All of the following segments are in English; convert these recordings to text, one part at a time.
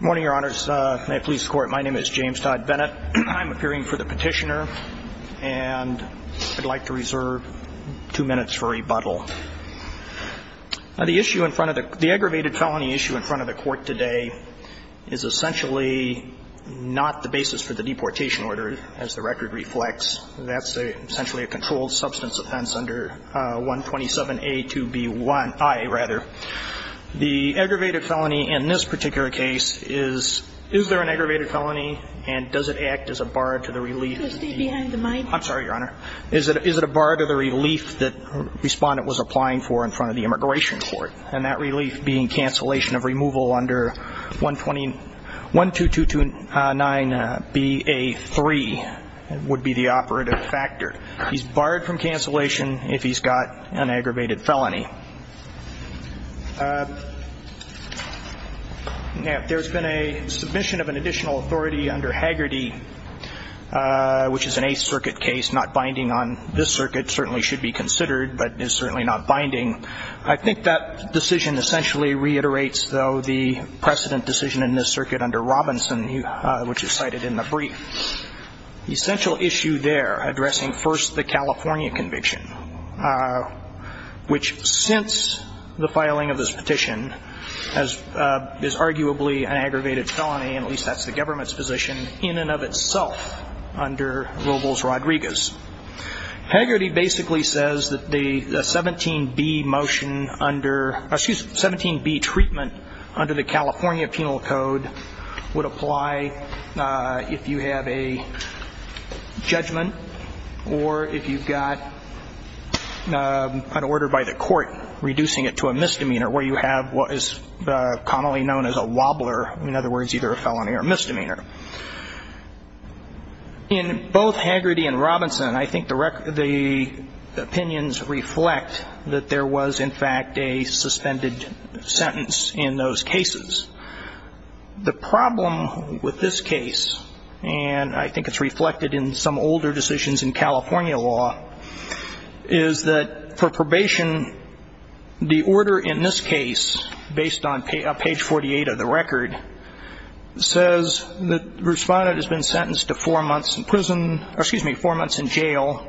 Morning, Your Honors. May it please the Court, my name is James Todd Bennett. I'm appearing for the petitioner, and I'd like to reserve two minutes for rebuttal. The issue in front of the, the aggravated felony issue in front of the Court today is essentially not the basis for the deportation order, as the record reflects. That's a, essentially a controlled substance offense under 127A2B1I, rather. The aggravated felony in this particular case is, is there an aggravated felony and does it act as a bar to the relief? Could you stay behind the mic? I'm sorry, Your Honor. Is it, is it a bar to the relief that Respondent was applying for in front of the Immigration Court, and that relief being cancellation of removal under 120, 12229BA3 would be the operative factor? He's barred from cancellation if he's got an aggravated felony. Now, if there's been a submission of an additional authority under Hagerty, which is an Eighth Circuit case, not binding on this circuit, certainly should be considered, but is certainly not binding. I think that decision essentially reiterates, though, the precedent decision in this circuit under Robinson, which is cited in the brief. The essential issue there, addressing first the California conviction, which since the filing of this petition, has, is arguably an aggravated felony, and at least that's the government's position, in and of itself under Robles-Rodriguez. Hagerty basically says that the 17B motion under, excuse me, 17B treatment under the California Penal Code would apply if you have a judgment, or if you've got an order by the court reducing it to a misdemeanor, where you have what is commonly known as a wobbler, in other words, either a felony or a misdemeanor. In both Hagerty and Robinson, I think the record, the opinions reflect that there was, in fact, a suspended sentence in those cases. The problem with this case, and I think it's reflected in some older decisions in California law, is that for probation, the order in this case, based on page 48 of the record, says that the respondent has been sentenced to four months in prison, or excuse me, four months in jail,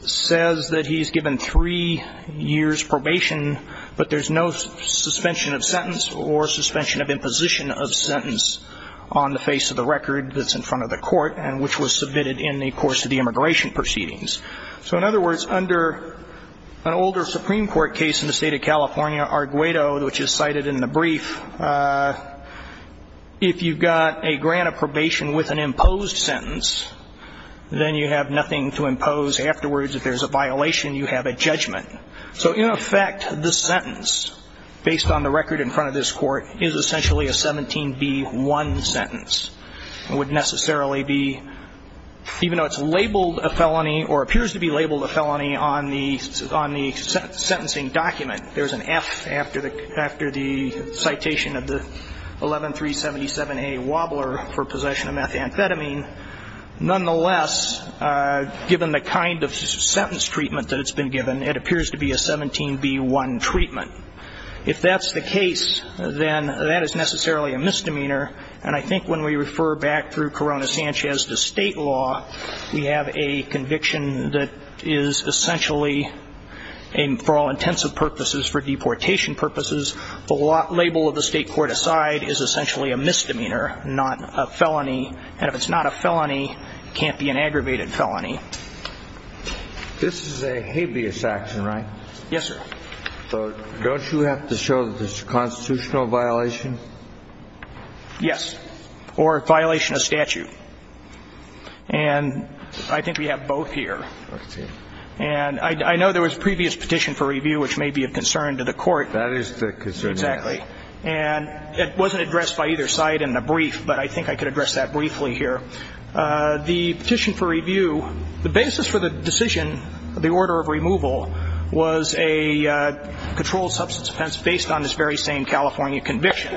says that he's given three years probation, but there's no suspension of sentence or suspension of imposition of sentence on the face of the record that's in front of the court, and which was submitted in the course of the immigration proceedings. So, in other words, under an older Supreme Court case in the state of California, Arguello, which is cited in the brief, if you've got a grant of probation with an imposed sentence, then you have nothing to impose afterwards. If there's a violation, you have a judgment. So, in effect, this sentence, based on the record in front of this court, is essentially a 17B1 sentence. It would necessarily be, even though it's labeled a felony, or appears to be labeled a felony on the sentencing document, there's an F after the citation of the 11377A wobbler for possession of methamphetamine, nonetheless, given the kind of sentence treatment that it's been given, it appears to be a 17B1 treatment. If that's the case, then that is necessarily a misdemeanor, and I think when we refer back through Corona-Sanchez to state law, we have a conviction that is essentially, for all intents and purposes, for deportation purposes, the label of the state court aside is essentially a misdemeanor, not a felony. And if it's not a felony, it can't be an aggravated felony. This is a habeas action, right? Yes, sir. So, don't you have to show that it's a constitutional violation? Yes. Or a violation of statute. And I think we have both here. And I know there was a previous petition for review which may be of concern to the Court. That is the concern. Exactly. And it wasn't addressed by either side in the brief, but I think I could address that briefly here. The petition for review, the basis for the decision, the order of removal, was a controlled based on this very same California conviction,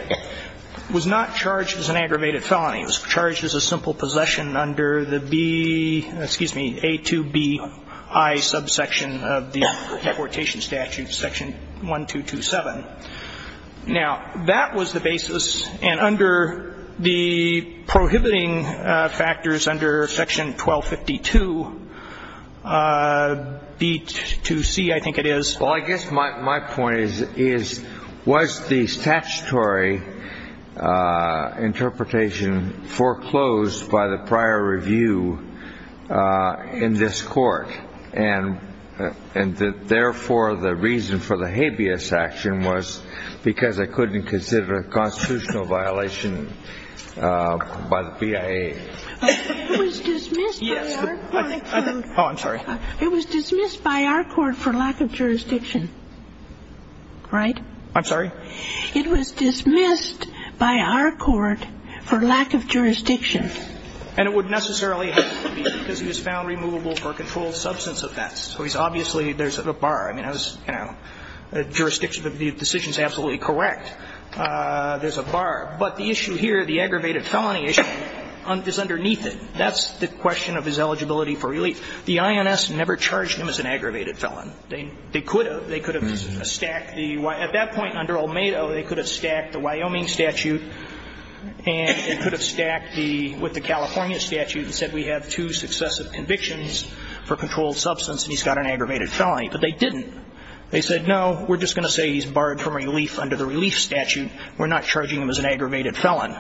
was not charged as an aggravated felony. It was charged as a simple possession under the B, excuse me, A2BI subsection of the deportation statute, section 1227. Now, that was the basis, and under the prohibiting factors under section 1252, B2C, I think it is. Well, I guess my point is, was the statutory interpretation foreclosed by the prior review in this Court? And, therefore, the reason for the habeas action was because it couldn't consider a constitutional violation by the BIA. It was dismissed by our court for lack of jurisdiction. Right? I'm sorry? It was dismissed by our court for lack of jurisdiction. And it would necessarily have to be because it was found removable for controlled substance offense. So, obviously, there's a bar. I mean, I was, you know, the jurisdiction of the decision is absolutely correct. There's a bar. But the issue here, the aggravated felony issue, is underneath it. That's the question of his eligibility for relief. The INS never charged him as an aggravated felon. They could have. They could have stacked the why. At that point, under Olmedo, they could have stacked the Wyoming statute, and they could have stacked the, with the California statute, and said we have two successive convictions for controlled substance, and he's got an aggravated felony. But they didn't. They said, no, we're just going to say he's barred from relief under the relief statute. We're not charging him as an aggravated felon.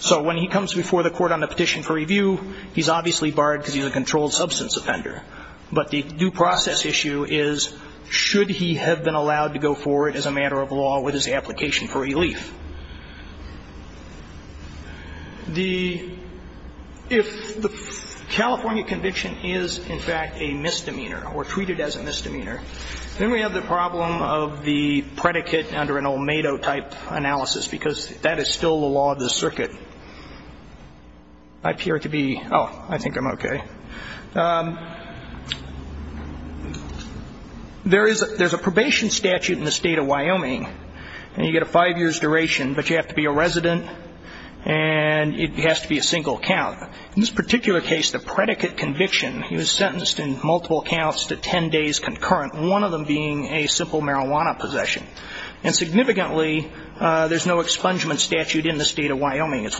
So when he comes before the court on the petition for review, he's obviously barred because he's a controlled substance offender. But the due process issue is, should he have been allowed to go forward as a matter of law with his application for relief? The, if the California conviction is, in fact, a misdemeanor, or treated as a misdemeanor, then we have the problem of the predicate under an Olmedo-type analysis, because that is still the law of the circuit. I appear to be, oh, I think I'm okay. There is a, there's a probation statute in the state of Wyoming, and you get a five years duration, but you have to be a resident, and it has to be a single count. In this particular case, the predicate conviction, he was sentenced in multiple counts to ten days concurrent, one of them being a simple marijuana possession. And significantly, there's no expungement statute in the state of Wyoming. That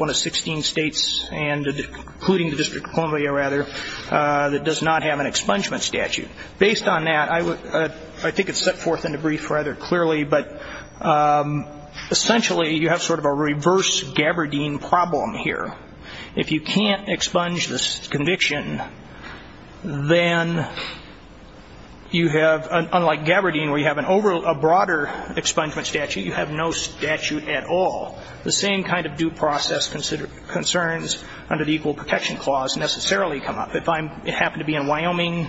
does not have an expungement statute. Based on that, I would, I think it's set forth in the brief rather clearly, but essentially, you have sort of a reverse Gabardine problem here. If you can't expunge this conviction, then you have, unlike Gabardine, where you have an over, a broader expungement statute, you have no statute at all. The same kind of due process concerns under the equal protection clause necessarily come up. If I happen to be in Wyoming,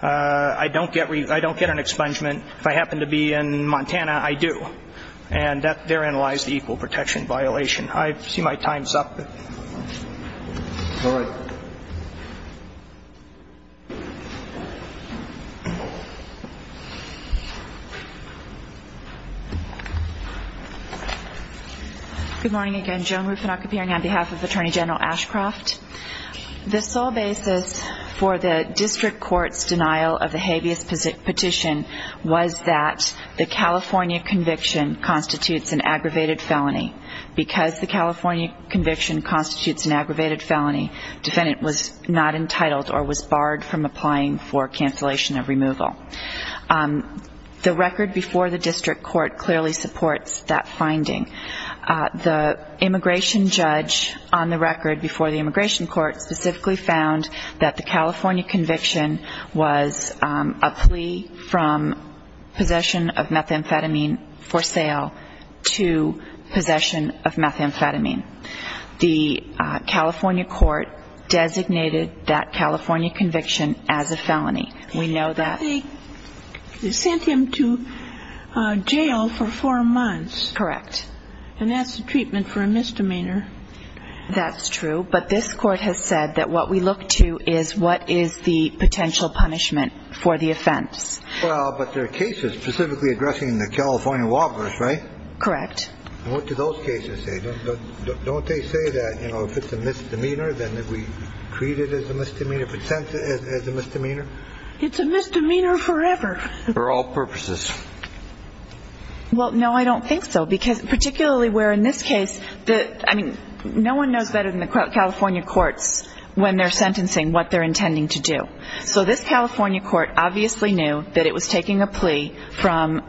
I don't get an expungement. If I happen to be in Montana, I do. And therein lies the equal protection violation. I see my time's up. All right. Good morning again. Joan Rufinock appearing on behalf of Attorney General Ashcroft. The sole basis for the district court's denial of the habeas petition was that the California conviction constitutes an aggravated felony because the California conviction constitutes an aggravated felony. Defendant was not entitled or was barred from applying for cancellation of removal. The record before the district court clearly supports that finding. The immigration judge on the record before the immigration court specifically found that the California conviction was a plea from possession of methamphetamine for sale to possession of methamphetamine. The California court designated that California conviction as a felony. We know that. They sent him to jail for four months. Correct. And that's the treatment for a misdemeanor. That's true. But this court has said that what we look to is what is the potential punishment for the offense. Well, but there are cases specifically addressing the California walkers, right? Correct. What do those cases say? Don't they say that, you know, if it's a misdemeanor, then we treat it as a misdemeanor, present it as a misdemeanor? It's a misdemeanor forever. For all purposes. Well, no, I don't think so. Because particularly where in this case, I mean, no one knows better than the California courts when they're sentencing what they're intending to do. So this California court obviously knew that it was taking a plea from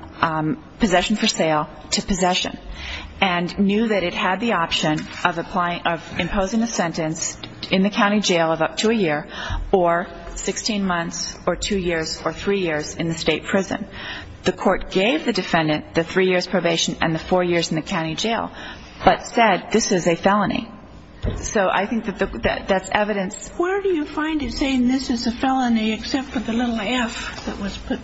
possession for sale to possession and knew that it had the option of imposing a sentence in the county jail of up to a year or 16 months or two years or three years in the state prison. The court gave the defendant the three years probation and the four years in the county jail, but said this is a felony. So I think that that's evidence. Where do you find it saying this is a felony except for the little F that was put?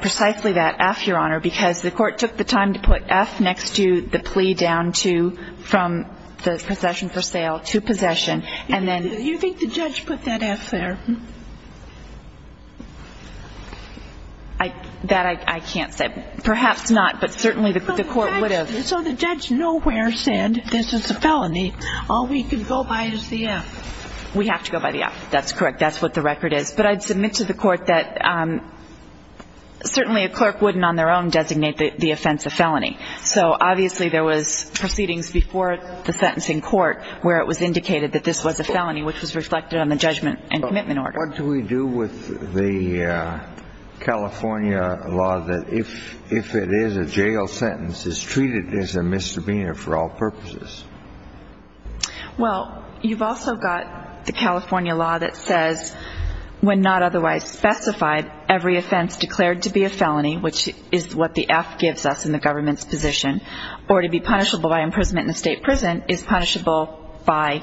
Precisely that F, Your Honor, because the court took the time to put F next to the plea down to from the possession for sale to possession. You think the judge put that F there? That I can't say. Perhaps not, but certainly the court would have. So the judge nowhere said this is a felony. All we can go by is the F. We have to go by the F. That's correct. That's what the record is. But I'd submit to the court that certainly a clerk wouldn't on their own designate the offense a felony. So obviously there was proceedings before the sentencing court where it was indicated that this was a felony, which was reflected on the judgment and commitment order. What do we do with the California law that if it is a jail sentence, is treated as a misdemeanor for all purposes? Well, you've also got the California law that says when not otherwise specified, every offense declared to be a felony, which is what the F gives us in the government's position, or to be punishable by imprisonment in a state prison is punishable by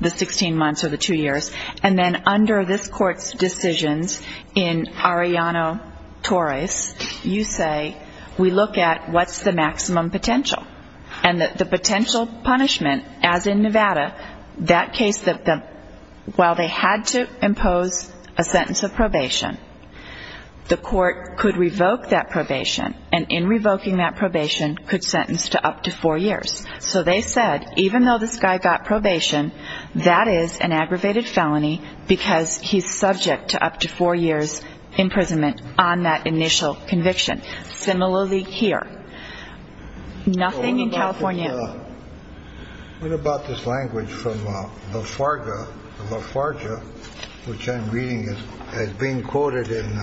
the 16 months or the two years. And then under this court's decisions in Arellano-Torres, you say we look at what's the maximum potential. And the potential punishment, as in Nevada, that case that while they had to impose a sentence of probation, the court could revoke that probation, and in revoking that probation could sentence to up to four years. So they said, even though this guy got probation, that is an aggravated felony because he's subject to up to four years imprisonment on that initial conviction. Similarly here. Nothing in California. What about this language from La Farga, La Farja, which I'm reading as being quoted in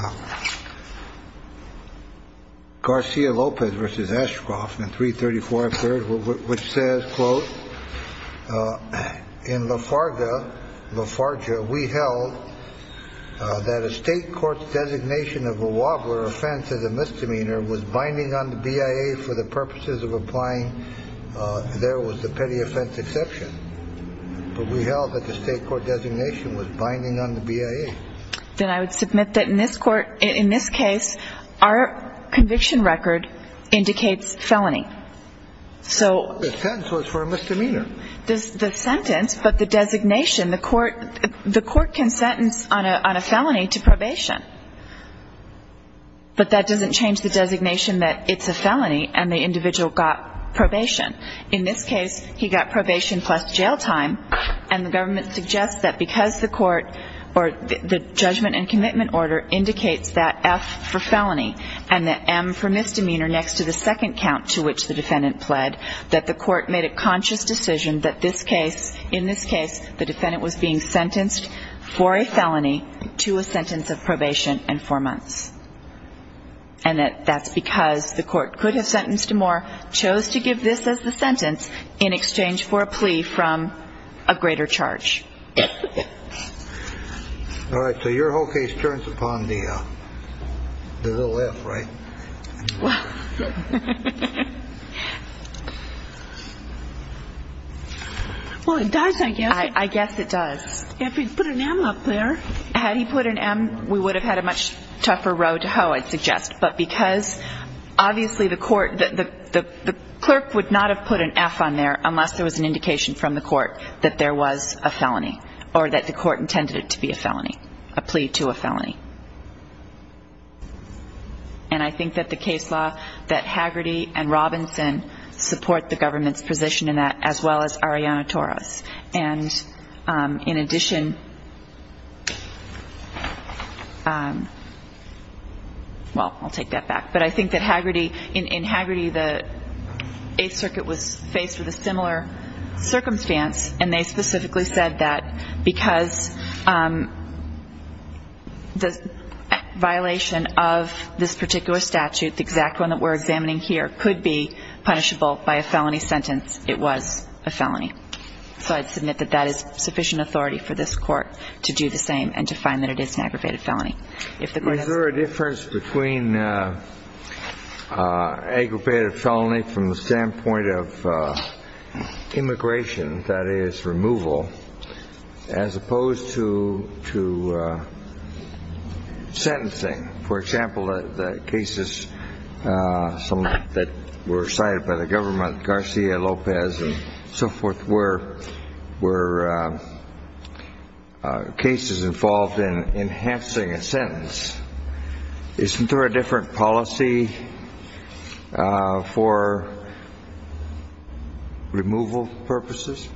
Garcia-Lopez v. Ashcroft, which says, quote, in La Farga, La Farja, we held that a state court's designation of a wobbler offense as a misdemeanor was binding on the BIA for the purposes of applying there was a petty offense exception. But we held that the state court designation was binding on the BIA. Then I would submit that in this court, in this case, our conviction record indicates felony. The sentence was for a misdemeanor. The sentence, but the designation, the court can sentence on a felony to probation. But that doesn't change the designation that it's a felony and the individual got probation. In this case, he got probation plus jail time. And the government suggests that because the court or the judgment and commitment order indicates that F for felony and that M for misdemeanor next to the second count to which the defendant pled, that the court made a conscious decision that this case, in this case, the defendant was being sentenced for a felony to a sentence of probation and four months. And that that's because the court could have sentenced him more, chose to give this as the sentence in exchange for a plea from a greater charge. All right. So your whole case turns upon the little F, right? Well, it does, I guess. I guess it does. If he'd put an M up there. Had he put an M, we would have had a much tougher road to hoe, I'd suggest. But because obviously the court, the clerk would not have put an F on there unless there was an indication from the court that there was a felony or that the court intended it to be a felony, a plea to a felony. And I think that the case law, that Haggerty and Robinson support the government's position in that, as well as Ariana Torres. And in addition, well, I'll take that back. But I think that in Haggerty, the Eighth Circuit was faced with a similar circumstance, and they specifically said that because the violation of this particular statute, the exact one that we're examining here, could be punishable by a felony sentence, it was a felony. So I'd submit that that is sufficient authority for this court to do the same and to find that it is an aggravated felony. Is there a difference between aggravated felony from the standpoint of immigration, that is, removal, as opposed to sentencing? For example, the cases that were cited by the government, Garcia-Lopez and so forth, were cases involved in enhancing a sentence. Isn't there a different policy for removal purposes?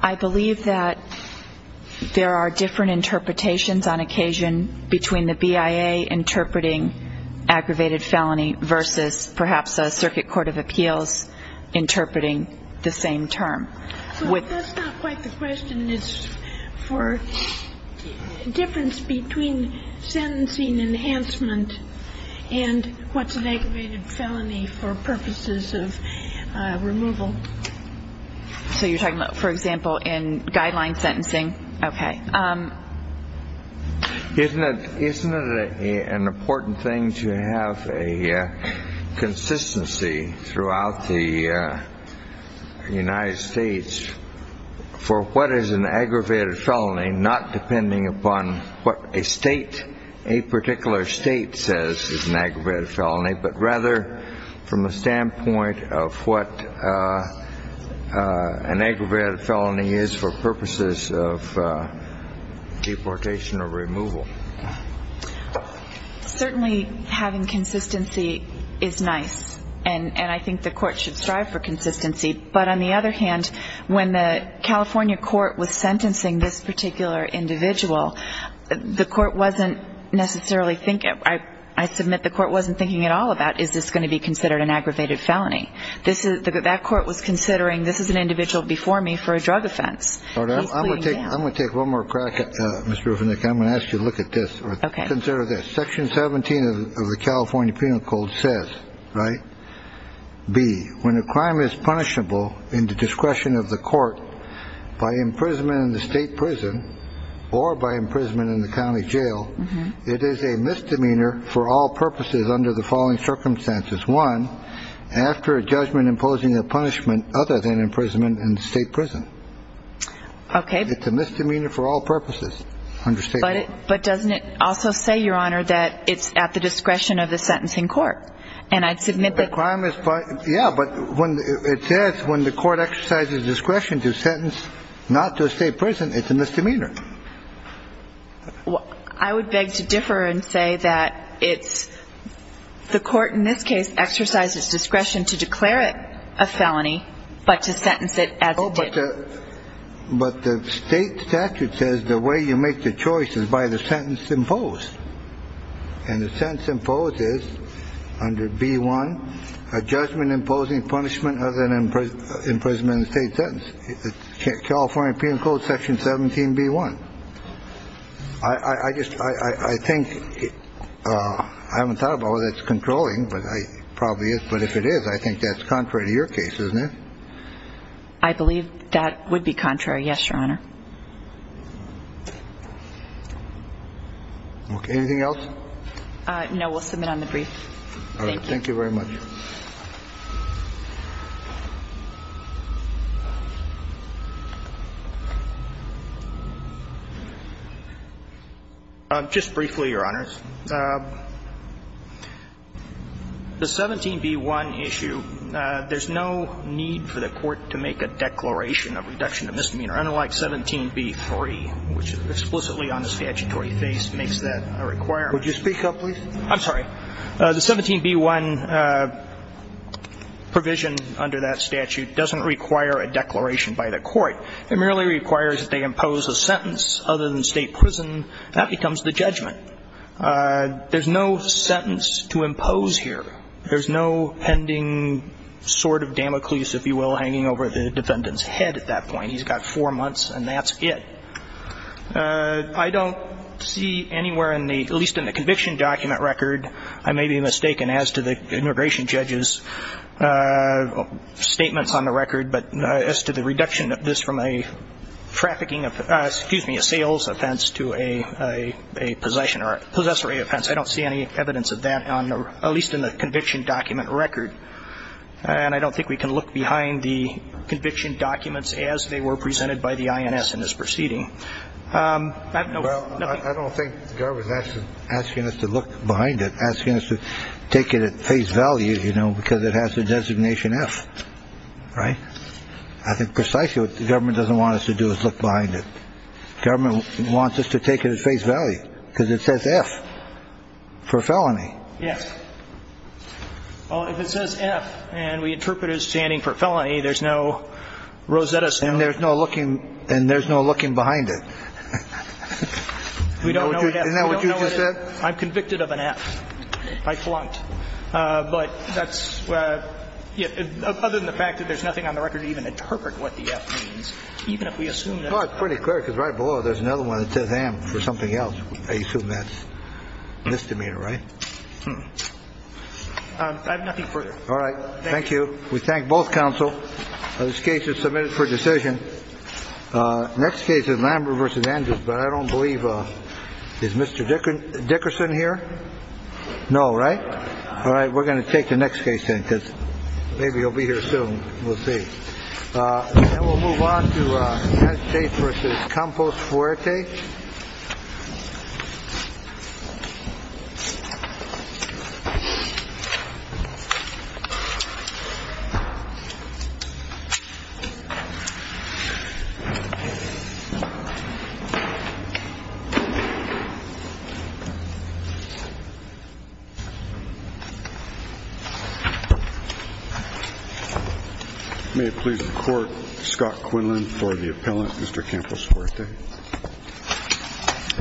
I believe that there are different interpretations on occasion between the BIA interpreting aggravated felony versus perhaps a circuit court of appeals interpreting the same term. So that's not quite the question. It's for difference between sentencing enhancement and what's an aggravated felony for purposes of removal. So you're talking about, for example, in guideline sentencing? Okay. Isn't it an important thing to have a consistency throughout the United States for what is an aggravated felony not depending upon what a state, a particular state says is an aggravated felony, but rather from a standpoint of what an aggravated felony is for purposes of deportation or removal? Certainly having consistency is nice, and I think the court should strive for consistency. But on the other hand, when the California court was sentencing this particular individual, I submit the court wasn't thinking at all about, is this going to be considered an aggravated felony? That court was considering, this is an individual before me for a drug offense. I'm going to take one more crack, Ms. Rufinick. I'm going to ask you to look at this. Consider this. Section 17 of the California Penal Code says, right, B, when a crime is punishable in the discretion of the court by imprisonment in the state prison or by imprisonment in the county jail, it is a misdemeanor for all purposes under the following circumstances. One, after a judgment imposing a punishment other than imprisonment in the state prison. Okay. It's a misdemeanor for all purposes under state law. But doesn't it also say, Your Honor, that it's at the discretion of the sentencing court? And I submit that the crime is punished. Yeah, but it says when the court exercises discretion to sentence not to a state prison, it's a misdemeanor. I would beg to differ and say that it's the court in this case exercises discretion to declare it a felony, but to sentence it as it did. But the state statute says the way you make the choice is by the sentence imposed. And the sentence imposed is under B1, a judgment imposing punishment other than imprisonment in the state sentence. California Penal Code Section 17B1. I just I think I haven't thought about whether it's controlling, but it probably is. But if it is, I think that's contrary to your case, isn't it? I believe that would be contrary. Yes, Your Honor. Anything else? No, we'll submit on the brief. Thank you very much. Just briefly, Your Honors, the 17B1 issue, there's no need for the court to make a declaration of reduction of misdemeanor. Unlike 17B3, which explicitly on the statutory face makes that a requirement. Would you speak up, please? I'm sorry. The 17B1 provision under that statute doesn't require a declaration by the court. It merely requires that they impose a sentence other than state prison. That becomes the judgment. There's no sentence to impose here. There's no pending sword of Damocles, if you will, hanging over the defendant's head at that point. He's got four months, and that's it. I don't see anywhere in the, at least in the conviction document record, I may be mistaken as to the immigration judge's statements on the record, but as to the reduction of this from a trafficking, excuse me, a sales offense to a possession or a possessory offense. I don't see any evidence of that, at least in the conviction document record. And I don't think we can look behind the conviction documents as they were presented by the INS in this proceeding. I have no. Well, I don't think Garvin's asking us to look behind it, asking us to take it at face value, you know, because it has the designation F, right? I think precisely what the government doesn't want us to do is look behind it. Government wants us to take it at face value because it says F for felony. Yes. Well, if it says F and we interpret it as standing for felony, there's no Rosetta Stone. And there's no looking behind it. Isn't that what you just said? I'm convicted of an F. I flunked. But that's, other than the fact that there's nothing on the record to even interpret what the F means, even if we assume that. Well, it's pretty clear because right below there's another one that says M for something else. I assume that's misdemeanor, right? I have nothing further. All right. Thank you. We thank both counsel. This case is submitted for decision. Next case is Lambert versus Andrews. But I don't believe Mr. Dickerson here. No. Right. All right. We're going to take the next case in because maybe he'll be here soon. We'll see. We'll move on to state versus Campos Forte. May it please the court. Scott Quinlan for the appellant, Mr. Campos Forte.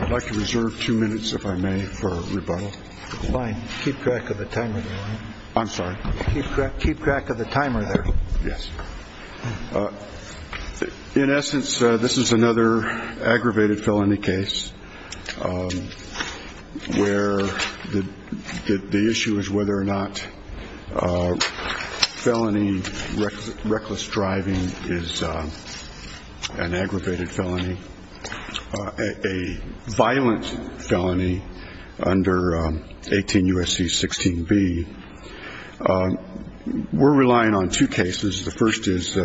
I'd like to reserve two minutes, if I may, for rebuttal. Fine. Keep track of the time. I'm sorry. Keep track. Keep track of the timer there. Yes. In essence, this is another aggravated felony case where the issue is whether or not felony reckless driving is an aggravated felony. A violent felony under 18 U.S.C. 16B. We're relying on two cases. The first is.